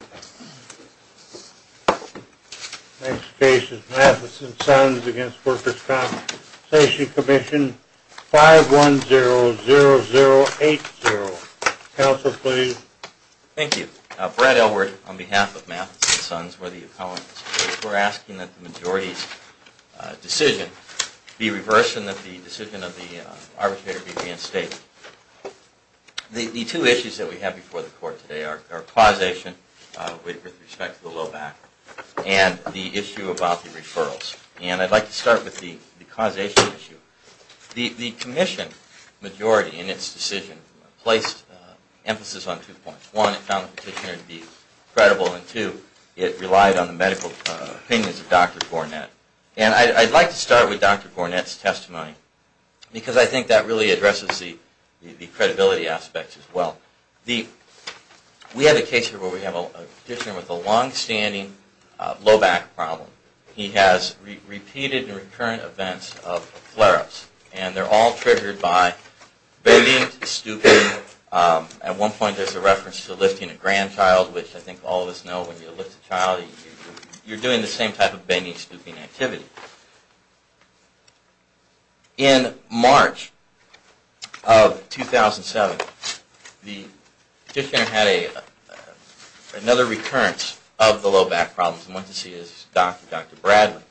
Next case is Mathis and Sons v. Workers' Compensation Commission, 510080. Counsel, please. Thank you. Brad Elwood on behalf of Mathis and Sons, we're the economists. We're asking that the majority's decision be reversed and that the decision of the arbitrator be reinstated. The two issues that we have before the court today are causation with respect to the low back and the issue about the referrals. And I'd like to start with the causation issue. The commission majority in its decision placed emphasis on two points. One, it found the petitioner to be credible, and two, it relied on the medical opinions of Dr. Gornett. And I'd like to start with Dr. Gornett's testimony, because I think that really addresses the credibility aspects as well. We have a case here where we have a petitioner with a longstanding low back problem. He has repeated and recurrent events of flare-ups, and they're all triggered by bending, stooping. At one point there's a reference to lifting a grandchild, which I think all of us know when you lift a child you're doing the same type of bending, stooping activity. In March of 2007, the petitioner had another recurrence of the low back problems and went to see his doctor, Dr. Bradley.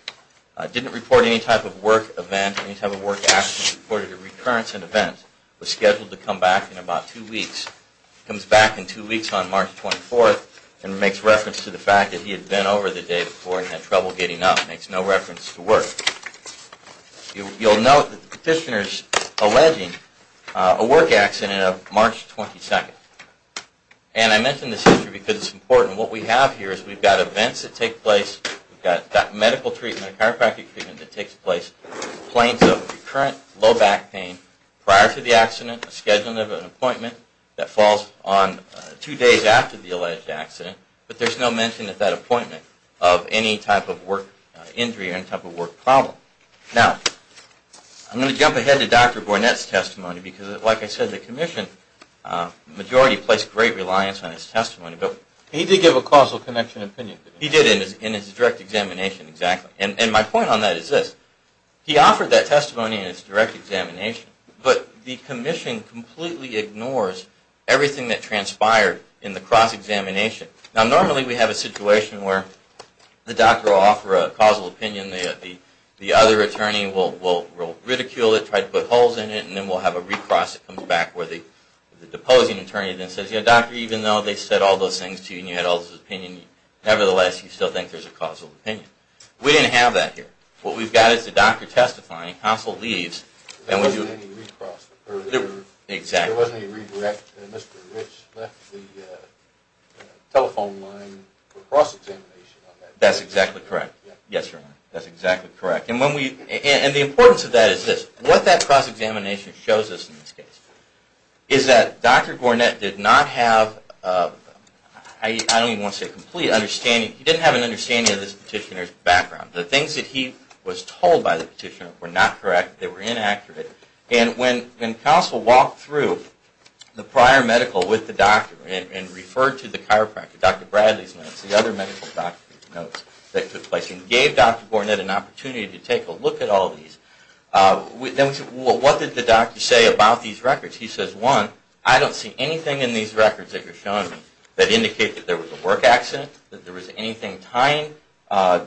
He didn't report any type of work event, any type of work action. He reported a recurrence in events, was scheduled to come back in about two weeks. He comes back in two weeks on March 24th and makes reference to the fact that he had bent over the day before and had trouble getting up. He makes no reference to work. You'll note that the petitioner is alleging a work accident of March 22nd. And I mention this issue because it's important. What we have here is we've got events that take place, we've got medical treatment, chiropractic treatment that takes place, claims of recurrent low back pain prior to the accident, a schedule of an appointment that falls on two days after the alleged accident, but there's no mention of that appointment of any type of work injury or any type of work problem. Now, I'm going to jump ahead to Dr. Bournette's testimony because, like I said, the commission majority placed great reliance on his testimony. He did give a causal connection opinion. He did in his direct examination, exactly. And my point on that is this. He offered that testimony in his direct examination, but the commission completely ignores everything that transpired in the cross-examination. Now, normally we have a situation where the doctor will offer a causal opinion, the other attorney will ridicule it, try to put holes in it, and then we'll have a recross that comes back where the deposing attorney then says, you know, doctor, even though they said all those things to you and you had all this opinion, nevertheless, you still think there's a causal opinion. We didn't have that here. What we've got is the doctor testifying, counsel leaves. There wasn't any recross. Exactly. There wasn't any redirect. Mr. Rich left the telephone line for cross-examination on that. That's exactly correct. Yes, sir. That's exactly correct. And the importance of that is this. What that cross-examination shows us in this case is that Dr. Gornett did not have a complete understanding. He didn't have an understanding of this petitioner's background. The things that he was told by the petitioner were not correct. They were inaccurate. And when counsel walked through the prior medical with the doctor and referred to the chiropractor, Dr. Bradley's notes, the other medical doctor's notes that took place, and gave Dr. Gornett an opportunity to take a look at all these, then we said, well, what did the doctor say about these records? He says, one, I don't see anything in these records that you're showing me that indicate that there was a work accident, that there was anything tying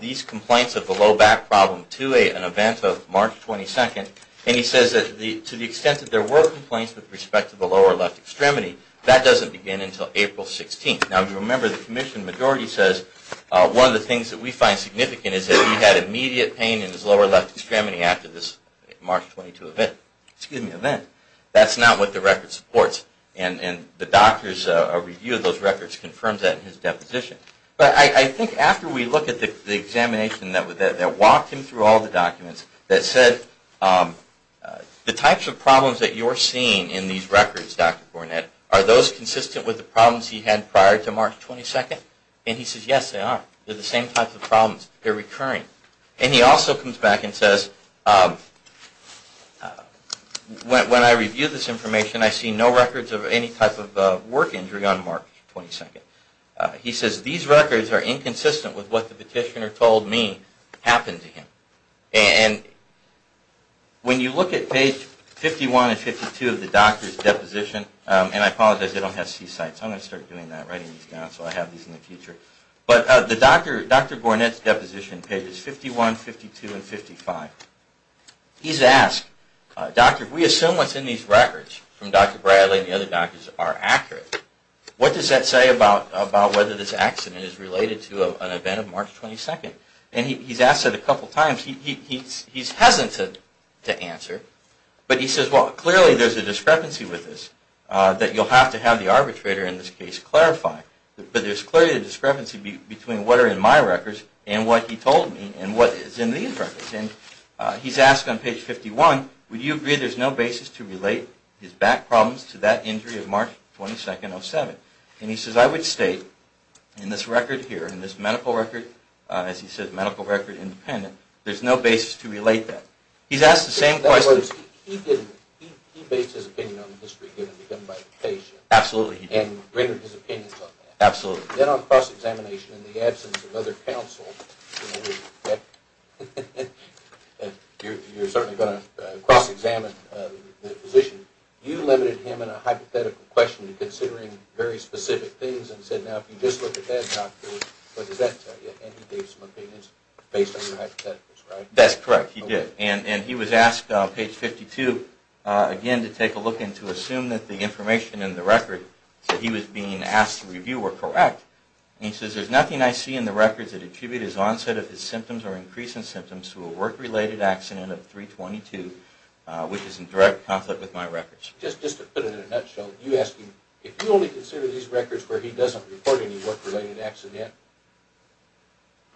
these complaints of the low back problem to an event of March 22nd. And he says that to the extent that there were complaints with respect to the lower left extremity, that doesn't begin until April 16th. Now, remember, the commission majority says one of the things that we find significant is that he had immediate pain in his lower left extremity after this March 22 event. That's not what the record supports. And the doctor's review of those records confirms that in his deposition. But I think after we look at the examination that walked him through all the documents that said, the types of problems that you're seeing in these records, Dr. Gornett, are those consistent with the problems he had prior to March 22nd? And he says, yes, they are. They're the same type of problems. They're recurring. And he also comes back and says, when I review this information, I see no records of any type of work injury on March 22nd. He says, these records are inconsistent with what the petitioner told me happened to him. And when you look at page 51 and 52 of the doctor's deposition, and I apologize, they don't have C-sites. I'm going to start doing that, writing these down, so I have these in the future. But Dr. Gornett's deposition, pages 51, 52, and 55, he's asked, we assume what's in these records from Dr. Bradley and the other doctors are accurate. What does that say about whether this accident is related to an event of March 22nd? And he's asked that a couple times. He's hesitant to answer. But he says, well, clearly there's a discrepancy with this that you'll have to have the arbitrator in this case clarify. But there's clearly a discrepancy between what are in my records and what he told me and what is in these records. And he's asked on page 51, would you agree there's no basis to relate his back problems to that injury of March 22nd, 07? And he says, I would state in this record here, in this medical record, as he says, medical record independent, there's no basis to relate that. He's asked the same question. He based his opinion on the history given by the patient. Absolutely. And rendered his opinions on that. Absolutely. Then on cross-examination, in the absence of other counsel, you're certainly going to cross-examine the position, you limited him in a hypothetical question to considering very specific things and said, now, if you just look at that doctor, what does that tell you? And he gave some opinions based on your hypotheticals, right? That's correct, he did. And he was asked on page 52, again, to take a look and to assume that the information in the record that he was being asked to review were correct. And he says, there's nothing I see in the records that attribute his onset of his symptoms or increase in symptoms to a work-related accident of 3-22, which is in direct conflict with my records. Just to put it in a nutshell, you ask him, if you only consider these records where he doesn't report any work-related accident,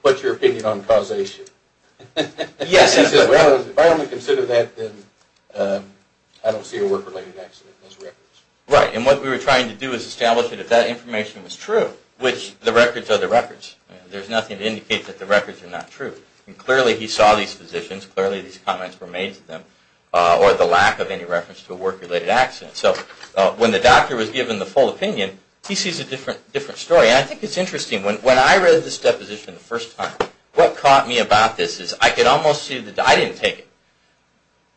what's your opinion on causation? Yes. If I only consider that, then I don't see a work-related accident in those records. Right, and what we were trying to do is establish that if that information was true, which the records are the records, there's nothing to indicate that the records are not true. And clearly, he saw these physicians, clearly these comments were made to them, or the lack of any reference to a work-related accident. So when the doctor was given the full opinion, he sees a different story. And I think it's interesting, when I read this deposition the first time, what caught me about this is I could almost see, I didn't take it,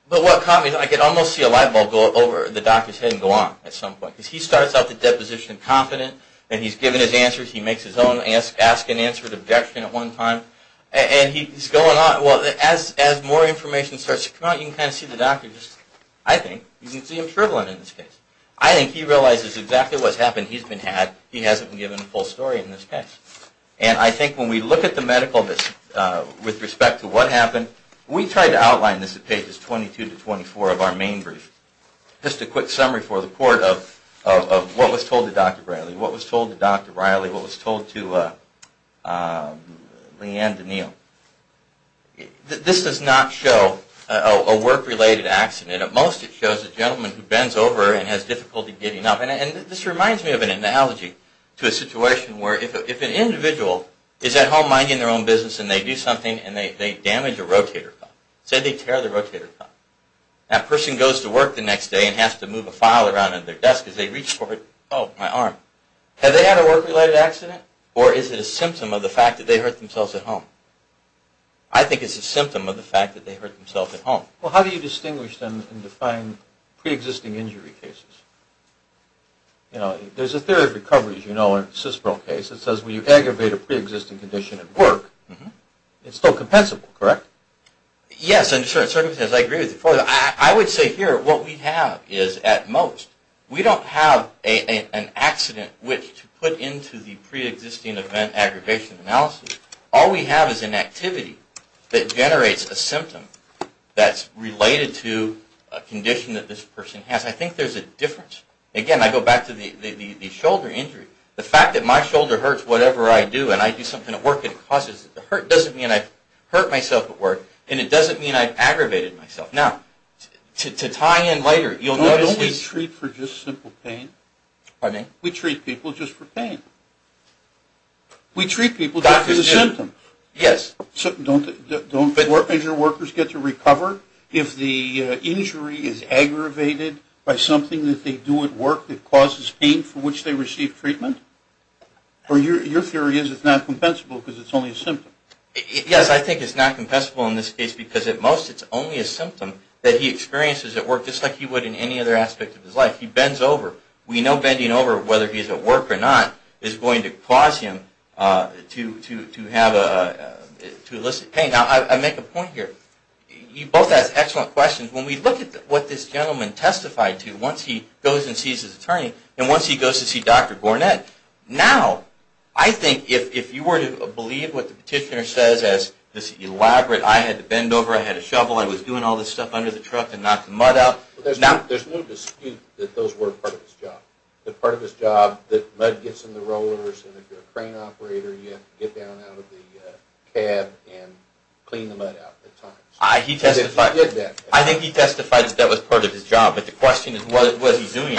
but what caught me is I could almost see a light bulb go over the doctor's head and go on at some point. Because he starts out the deposition confident, and he's given his answers, he makes his own ask-and-answer objection at one time, and he's going on. Well, as more information starts to come out, you can kind of see the doctor just, I think, you can see him shriveling in this case. I think he realizes exactly what's happened, he's been had, he hasn't been given the full story in this case. And I think when we look at the medical, with respect to what happened, we tried to outline this at pages 22 to 24 of our main brief. Just a quick summary for the report of what was told to Dr. Briley, what was told to Dr. Briley, what was told to Leanne DeNeal. This does not show a work-related accident. At most, it shows a gentleman who bends over and has difficulty getting up. And this reminds me of an analogy to a situation where if an individual is at home minding their own business, and they do something, and they damage a rotator cuff. Say they tear the rotator cuff. That person goes to work the next day and has to move a file around on their desk as they reach for it. Oh, my arm. Have they had a work-related accident? Or is it a symptom of the fact that they hurt themselves at home? I think it's a symptom of the fact that they hurt themselves at home. Well, how do you distinguish them and define pre-existing injury cases? You know, there's a theory of recovery, as you know, in a CISPR case. It says when you aggravate a pre-existing condition at work, it's still compensable, correct? Yes, under certain circumstances, I agree with you. I would say here what we have is, at most, we don't have an accident which to put into the pre-existing event aggravation analysis. All we have is an activity that generates a symptom that's related to a condition that this person has. I think there's a difference. Again, I go back to the shoulder injury. The fact that my shoulder hurts whatever I do and I do something at work that causes it to hurt doesn't mean I've hurt myself at work and it doesn't mean I've aggravated myself. Now, to tie in later, you'll notice this. No, we treat for just simple pain. Pardon me? We treat people just for pain. We treat people just for the symptom. Yes. Don't injured workers get to recover if the injury is aggravated by something that they do at work that causes pain for which they receive treatment? Or your theory is it's not compensable because it's only a symptom? Yes, I think it's not compensable in this case because, at most, it's only a symptom that he experiences at work, just like he would in any other aspect of his life. He bends over. We know bending over, whether he's at work or not, is going to cause him to elicit pain. Now, I make a point here. You both ask excellent questions. When we look at what this gentleman testified to, once he goes and sees his attorney and once he goes to see Dr. Gornett, now, I think if you were to believe what the petitioner says as this elaborate, I had to bend over, I had a shovel, I was doing all this stuff under the truck to knock the mud out. There's no dispute that those were part of his job, that part of his job, that mud gets in the rollers and if you're a crane operator, you have to get down out of the cab and clean the mud out at times. He did that. I think he testified that that was part of his job, but the question is, what was he doing?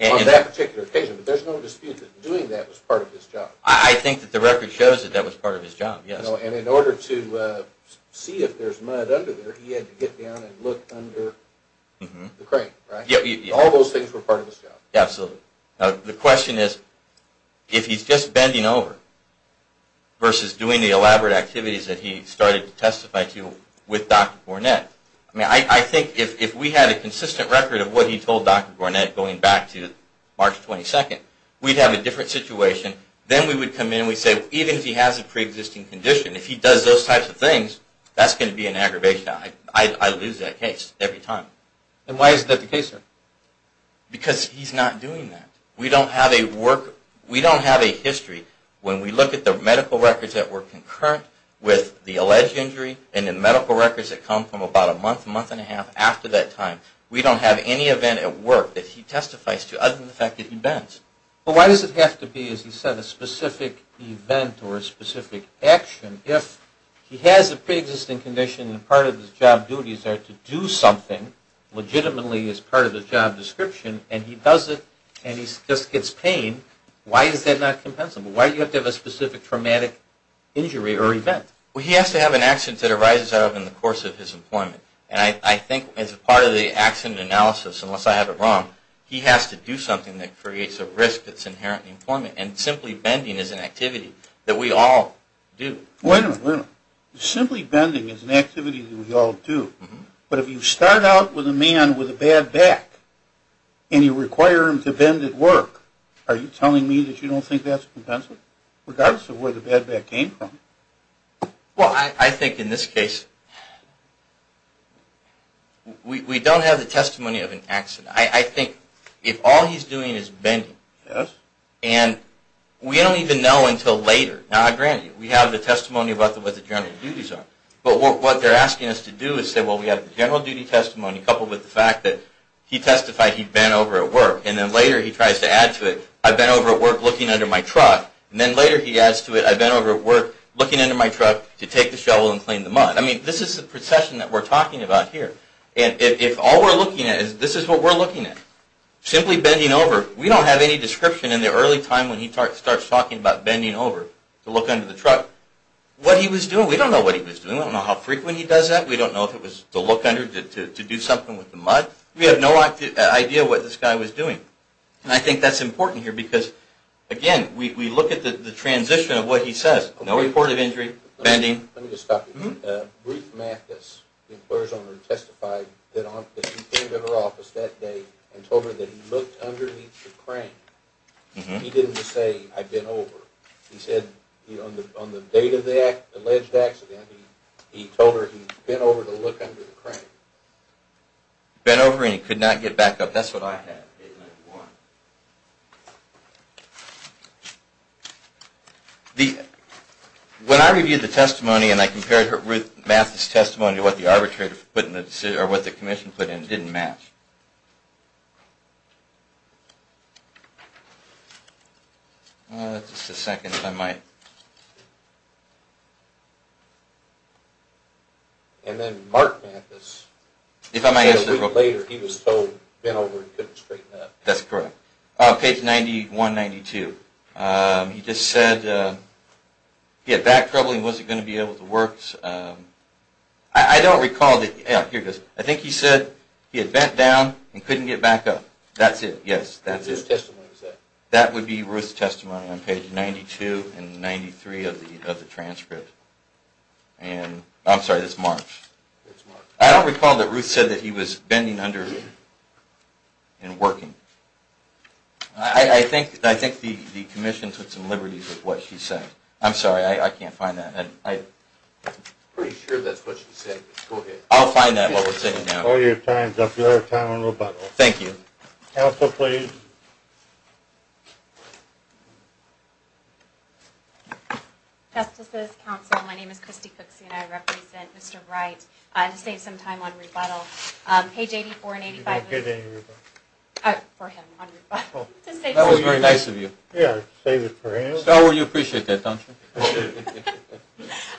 On that particular occasion, but there's no dispute that doing that was part of his job. I think that the record shows that that was part of his job, yes. And in order to see if there's mud under there, he had to get down and look under the crane, right? All those things were part of his job. Absolutely. The question is, if he's just bending over versus doing the elaborate activities that he started to testify to with Dr. Gornett, I mean, I think if we had a consistent record of what he told Dr. Gornett going back to March 22nd, we'd have a different situation, then we would come in and we'd say, even if he has a pre-existing condition, if he does those types of things, that's going to be an aggravation. I lose that case every time. And why is that the case, sir? Because he's not doing that. We don't have a history when we look at the medical records that were concurrent with the alleged injury and the medical records that come from about a month, month and a half after that time. We don't have any event at work that he testifies to other than the fact that he bends. Well, why does it have to be, as you said, a specific event or a specific action if he has a pre-existing condition and part of his job duties are to do something legitimately as part of his job description, and he does it and he just gets paid, why is that not compensable? Why do you have to have a specific traumatic injury or event? Well, he has to have an accident that arises out of it in the course of his employment. And I think as part of the accident analysis, unless I have it wrong, he has to do something that creates a risk that's inherent in employment, and simply bending is an activity that we all do. Wait a minute, wait a minute. Simply bending is an activity that we all do. But if you start out with a man with a bad back and you require him to bend at work, are you telling me that you don't think that's compensable, regardless of where the bad back came from? Well, I think in this case, we don't have the testimony of an accident. I think if all he's doing is bending, and we don't even know until later. Now, granted, we have the testimony about what the general duties are. But what they're asking us to do is say, well, we have the general duty testimony, coupled with the fact that he testified he bent over at work, and then later he tries to add to it, I bent over at work looking under my truck, and then later he adds to it, I bent over at work looking under my truck to take the shovel and clean the mud. I mean, this is the procession that we're talking about here. And if all we're looking at is, this is what we're looking at. Simply bending over, we don't have any description in the early time when he starts talking about bending over to look under the truck. What he was doing, we don't know what he was doing. We don't know how frequently he does that. We don't know if it was to look under, to do something with the mud. We have no idea what this guy was doing. And I think that's important here because, again, we look at the transition of what he says. No reported injury, bending. Let me just stop you there. Ruth Mathis, the employer's owner, testified that he came to her office that day and told her that he looked underneath the crane. He didn't just say, I bent over. He said, on the date of the alleged accident, he told her he bent over to look under the crane. Bent over and he could not get back up. That's what I had. When I reviewed the testimony and I compared Ruth Mathis' testimony to what the commission put in, it didn't match. Just a second, if I might. And then Mark Mathis, a week later, he was told he bent over and couldn't straighten up. That's correct. Page 91-92. He just said he had back trouble and he wasn't going to be able to work. I don't recall, here it goes. I think he said he had bent down and couldn't get back up. That's it, yes. That would be Ruth's testimony on page 92-93 of the transcript. I'm sorry, this is Mark's. I don't recall that Ruth said that he was bending under and working. I think the commission took some liberties with what she said. I'm sorry, I can't find that. I'm pretty sure that's what she said. I'll find that, what we're saying now. All your time is up. Your time on rebuttal. Thank you. Counsel, please. Justices, counsel, my name is Christy Cookson. I represent Mr. Wright. To save some time on rebuttal, page 84-85. You don't get any rebuttal. For him, on rebuttal. That was very nice of you. Yeah, save it for him. You appreciate that, don't you?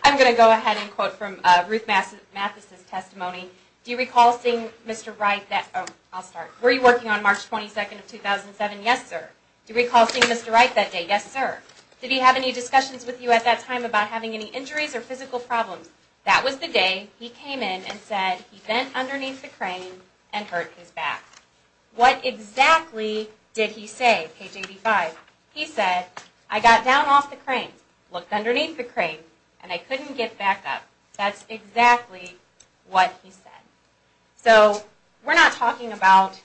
I'm going to go ahead and quote from Ruth Mathis' testimony. Do you recall seeing Mr. Wright that day? Oh, I'll start. Were you working on March 22nd of 2007? Yes, sir. Do you recall seeing Mr. Wright that day? Yes, sir. Did he have any discussions with you at that time about having any injuries or physical problems? That was the day he came in and said he bent underneath the crane and hurt his back. What exactly did he say, page 85? He said, I got down off the crane, looked underneath the crane, and I couldn't get back up. That's exactly what he said. So, we're not talking about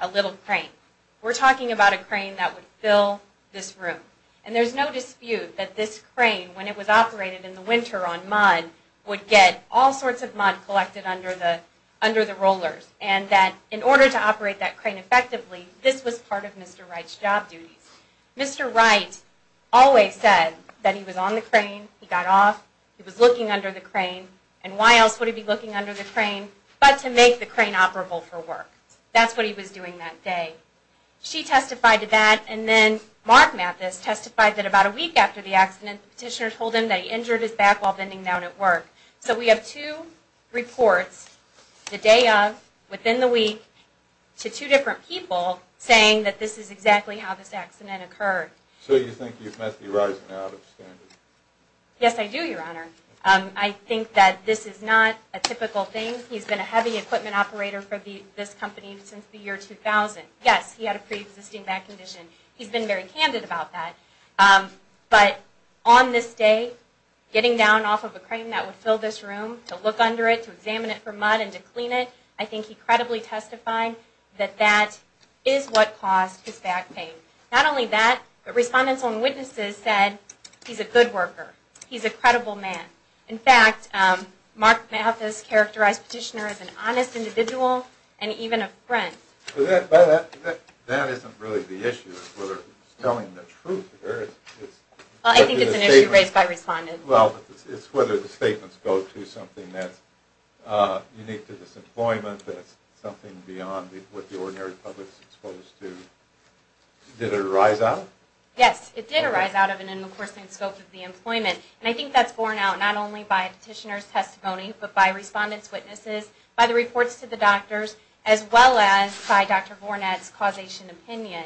a little crane. We're talking about a crane that would fill this room. And there's no dispute that this crane, when it was operated in the winter on mud, would get all sorts of mud collected under the rollers. And that in order to operate that crane effectively, this was part of Mr. Wright's job duties. Mr. Wright always said that he was on the crane, he got off, he was looking under the crane, and why else would he be looking under the crane but to make the crane operable for work. That's what he was doing that day. She testified to that, and then Mark Mathis testified that about a week after the accident, the petitioner told him that he injured his back while bending down at work. So we have two reports, the day of, within the week, to two different people saying that this is exactly how this accident occurred. So you think you've met the arising out of standard? Yes, I do, Your Honor. I think that this is not a typical thing. He's been a heavy equipment operator for this company since the year 2000. Yes, he had a pre-existing back condition. He's been very candid about that. But on this day, getting down off of a crane that would fill this room, to look under it, to examine it for mud and to clean it, I think he credibly testified that that is what caused his back pain. Not only that, but respondents and witnesses said he's a good worker. He's a credible man. In fact, Mark Mathis characterized the petitioner as an honest individual and even a friend. But that isn't really the issue. It's whether he's telling the truth. I think it's an issue raised by respondents. Well, it's whether the statements go to something that's unique to this employment, something beyond what the ordinary public is exposed to. Did it arise out? Yes, it did arise out of an endorsing scope of the employment. And I think that's borne out not only by petitioner's testimony, but by respondents' witnesses, by the reports to the doctors, as well as by Dr. Vornad's causation opinion.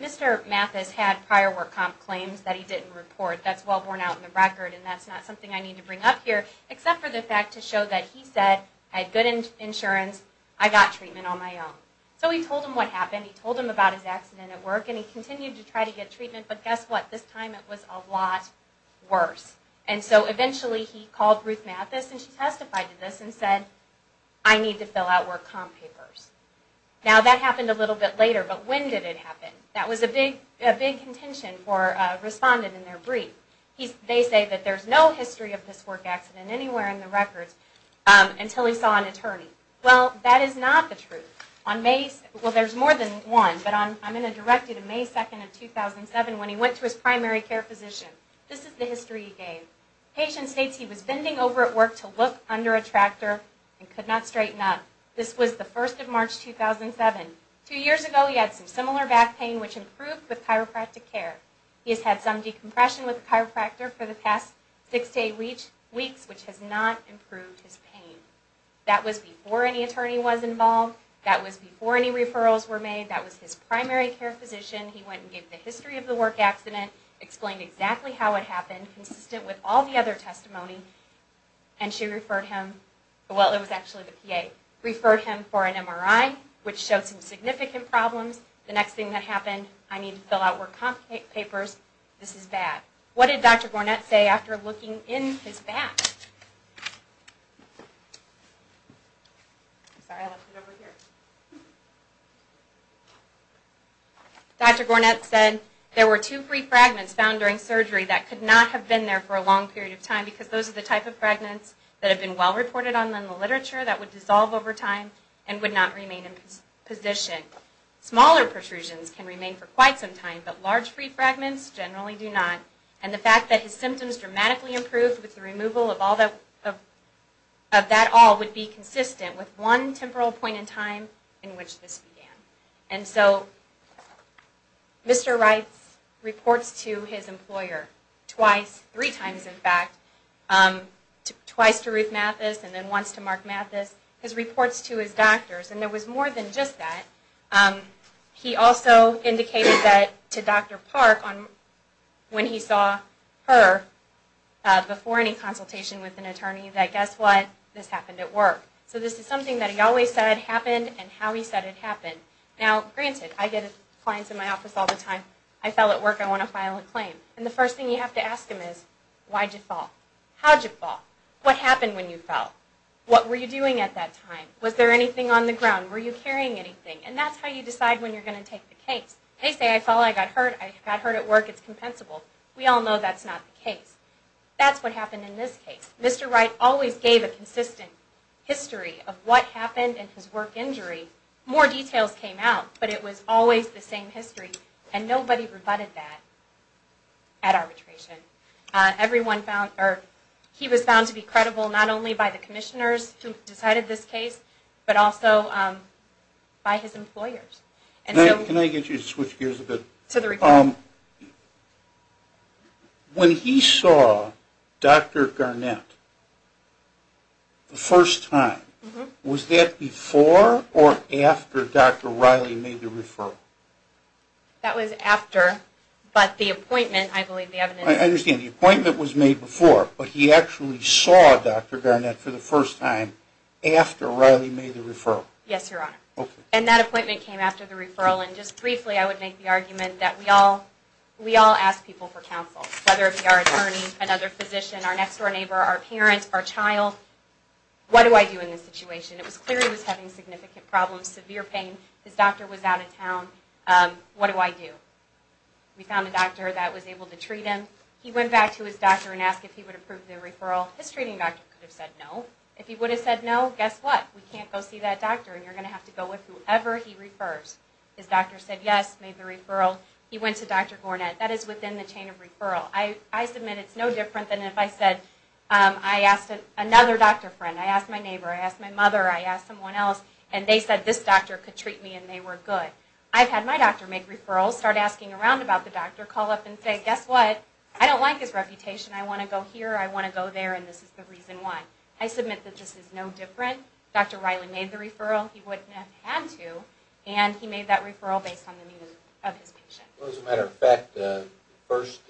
Mr. Mathis had prior work comp claims that he didn't report. That's well borne out in the record, and that's not something I need to bring up here, except for the fact to show that he said, I had good insurance, I got treatment on my own. So he told them what happened. He told them about his accident at work, and he continued to try to get treatment. But guess what? This time it was a lot worse. And so eventually he called Ruth Mathis, and she testified to this and said, I need to fill out work comp papers. Now that happened a little bit later, but when did it happen? That was a big contention for a respondent in their brief. They say that there's no history of this work accident anywhere in the records, until he saw an attorney. Well, that is not the truth. Well, there's more than one, but I'm going to direct you to May 2, 2007, when he went to his primary care physician. This is the history he gave. The patient states he was bending over at work to look under a tractor, and could not straighten up. This was the 1st of March, 2007. Two years ago he had some similar back pain, which improved with chiropractic care. He has had some decompression with a chiropractor for the past 6 to 8 weeks, which has not improved his pain. That was before any attorney was involved. That was before any referrals were made. That was his primary care physician. He went and gave the history of the work accident, explained exactly how it happened, consistent with all the other testimony. And she referred him, well, it was actually the PA, referred him for an MRI, which showed some significant problems. The next thing that happened, I needed to fill out work comp papers. This is bad. What did Dr. Gornett say after looking in his back? Dr. Gornett said there were two free fragments found during surgery that could not have been there for a long period of time, because those are the type of fragments that have been well reported on in the literature that would dissolve over time and would not remain in position. Smaller protrusions can remain for quite some time, but large free fragments generally do not. And the fact that his symptoms dramatically improved with the removal of that all would be consistent with one temporal point in time in which this began. And so Mr. Reitz reports to his employer twice, three times in fact, twice to Ruth Mathis and then once to Mark Mathis. His reports to his doctors. And there was more than just that. He also indicated that to Dr. Park when he saw her before any consultation with an attorney, that guess what? This happened at work. So this is something that he always said happened and how he said it happened. Now granted, I get clients in my office all the time, I fell at work, I want to file a claim. And the first thing you have to ask them is, why'd you fall? How'd you fall? What happened when you fell? What were you doing at that time? Was there anything on the ground? Were you carrying anything? And that's how you decide when you're going to take the case. They say, I fell, I got hurt, I got hurt at work, it's compensable. We all know that's not the case. That's what happened in this case. Mr. Reitz always gave a consistent history of what happened in his work injury. More details came out, but it was always the same history. And nobody rebutted that at arbitration. He was found to be credible not only by the commissioners who decided this case, but also by his employers. Can I get you to switch gears a bit? To the report. When he saw Dr. Garnett the first time, was that before or after Dr. Riley made the referral? That was after. But the appointment, I believe the evidence... I understand. The appointment was made before. But he actually saw Dr. Garnett for the first time after Riley made the referral. Yes, Your Honor. And that appointment came after the referral. And just briefly, I would make the argument that we all ask people for counsel, whether it be our attorney, another physician, our next-door neighbor, our parents, our child. What do I do in this situation? It was clear he was having significant problems, severe pain. His doctor was out of town. What do I do? We found a doctor that was able to treat him. He went back to his doctor and asked if he would approve the referral. His treating doctor could have said no. If he would have said no, guess what? We can't go see that doctor, and you're going to have to go with whoever he refers. His doctor said yes, made the referral. He went to Dr. Garnett. That is within the chain of referral. I submit it's no different than if I said I asked another doctor friend, I asked my neighbor, I asked my mother, I asked someone else, and they said this doctor could treat me, and they were good. I've had my doctor make referrals, start asking around about the doctor, call up and say, guess what? I don't like his reputation. I want to go here, I want to go there, and this is the reason why. I submit that this is no different. Dr. Riley made the referral. He wouldn't have had to, and he made that referral based on the needs of his patient. Well, as a matter of fact, the first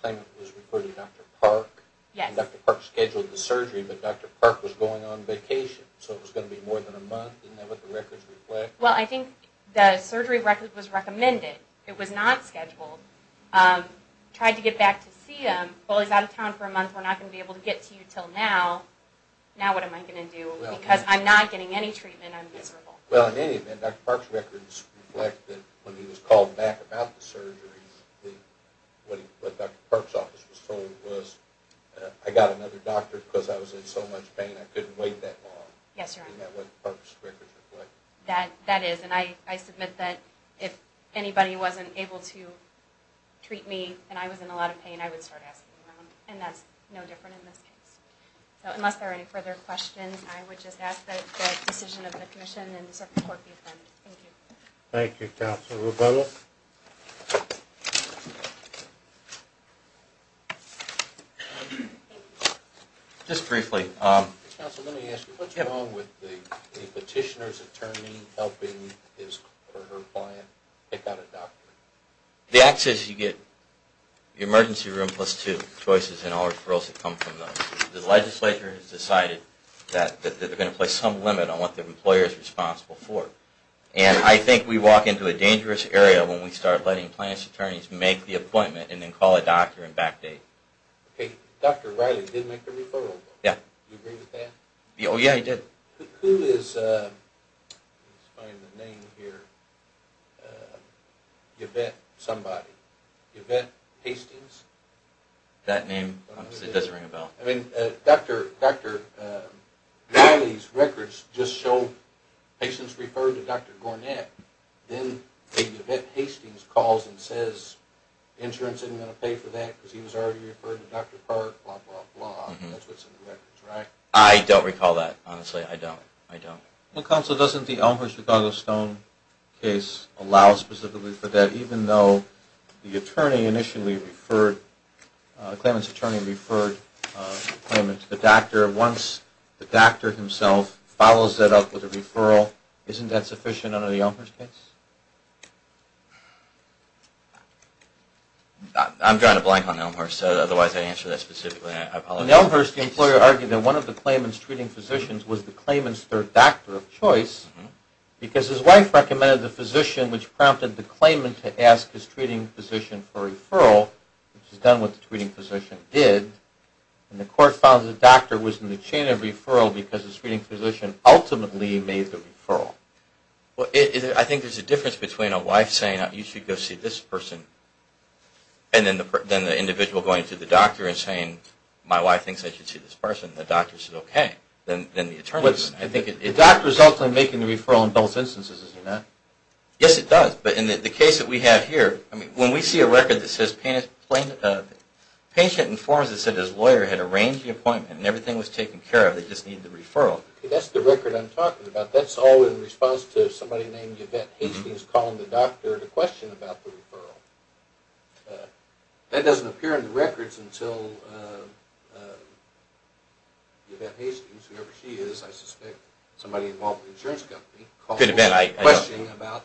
appointment was with Dr. Park, and Dr. Park scheduled the surgery, but Dr. Park was going on vacation, so it was going to be more than a month. Isn't that what the records reflect? Well, I think the surgery record was recommended. It was not scheduled. Tried to get back to see him. Well, he's out of town for a month. We're not going to be able to get to you until now. Now what am I going to do? Because I'm not getting any treatment. I'm miserable. Well, in any event, Dr. Park's records reflect that when he was called back about the surgery, what Dr. Park's office was told was, I got another doctor because I was in so much pain I couldn't wait that long. Yes, Your Honor. Isn't that what Dr. Park's records reflect? That is, and I submit that if anybody wasn't able to treat me and I was in a lot of pain, I would start asking around, and that's no different in this case. So unless there are any further questions, I would just ask that the decision of the commission and the circuit court be affirmed. Thank you. Thank you, Counselor Rubello. Just briefly. Counselor, let me ask you, what's wrong with the petitioner's attorney helping his or her client pick out a doctor? The act says you get the emergency room plus two choices and all referrals that come from those. The legislature has decided that they're going to place some limit on what the employer is responsible for, and then call a doctor and backdate. Okay. Dr. Riley did make the referral, though. Yeah. Do you agree with that? Oh, yeah, he did. Who is, let's find the name here, Yvette somebody, Yvette Hastings? That name, obviously, doesn't ring a bell. I mean, Dr. Riley's records just show patients referred to Dr. Gornett, then Yvette Hastings calls and says, insurance isn't going to pay for that because he was already referred to Dr. Park, blah, blah, blah. That's what's in the records, right? I don't recall that, honestly. I don't. I don't. Well, Counselor, doesn't the Elmhurst-Chicago Stone case allow specifically for that, even though the attorney initially referred, the claimant's attorney referred the claimant to the doctor. Once the doctor himself follows that up with a referral, isn't that sufficient under the Elmhurst case? I'm drawing a blank on Elmhurst. Otherwise, I'd answer that specifically, and I apologize. In Elmhurst, the employer argued that one of the claimant's treating physicians was the claimant's third doctor of choice because his wife recommended the physician, which prompted the claimant to ask his treating physician for a referral, which is done what the treating physician did. And the court found that the doctor was in the chain of referral because the Well, I think there's a difference between a wife saying, you should go see this person, and then the individual going to the doctor and saying, my wife thinks I should see this person, and the doctor says, okay. Then the attorney says, no. The doctor is ultimately making the referral in both instances, isn't that? Yes, it does. But in the case that we have here, when we see a record that says patient informs us that his lawyer had arranged the appointment and everything was taken care of, they just need the referral. That's the record I'm talking about. That's all in response to somebody named Yvette Hastings calling the doctor to question about the referral. That doesn't appear in the records until Yvette Hastings, whoever she is, I suspect, somebody involved with the insurance company, calls the doctor to question about,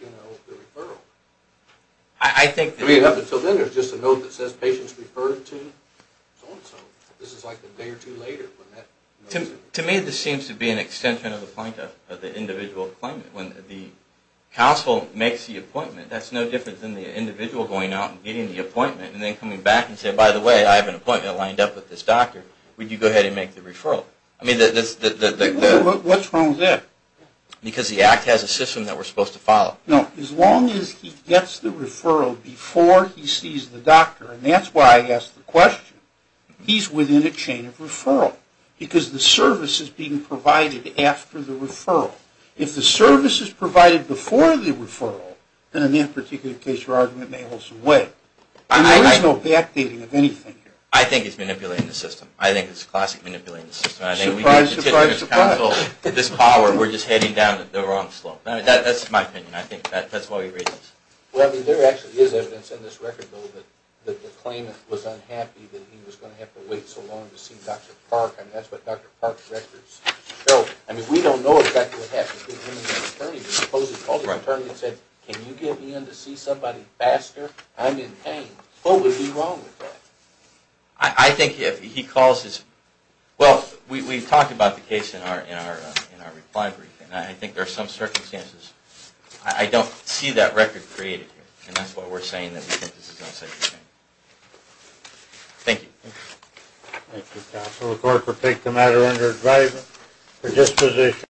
you know, the referral. I think that I mean, up until then, there's just a note that says patients referred to so-and-so. This is like a day or two later when that To me, this seems to be an extension of the point of the individual appointment. When the counsel makes the appointment, that's no different than the individual going out and getting the appointment and then coming back and saying, by the way, I have an appointment lined up with this doctor. Would you go ahead and make the referral? What's wrong with that? Because the act has a system that we're supposed to follow. No. As long as he gets the referral before he sees the doctor, and that's why I asked the question, he's within a chain of referral because the service is being provided after the referral. If the service is provided before the referral, then in that particular case, your argument may hold some weight. There is no backdating of anything here. I think it's manipulating the system. I think it's classic manipulating the system. Surprise, surprise, surprise. I think we need to teach this counsel this power. We're just heading down the wrong slope. That's my opinion. I think that's why we read this. Well, I mean, there actually is evidence in this record, though, that the claimant was unhappy that he was going to have to wait so long to see Dr. Park. I mean, that's what Dr. Park's records show. I mean, we don't know, in fact, what happened. He called the attorney and said, can you get me in to see somebody faster? I'm in pain. What would be wrong with that? I think if he calls his – well, we've talked about the case in our reply brief, and I think there are some circumstances. I don't see that record created here, and that's why we're saying that this is not such a claim. Thank you. Thank you, counsel. The court will take the matter under advisement for disposition.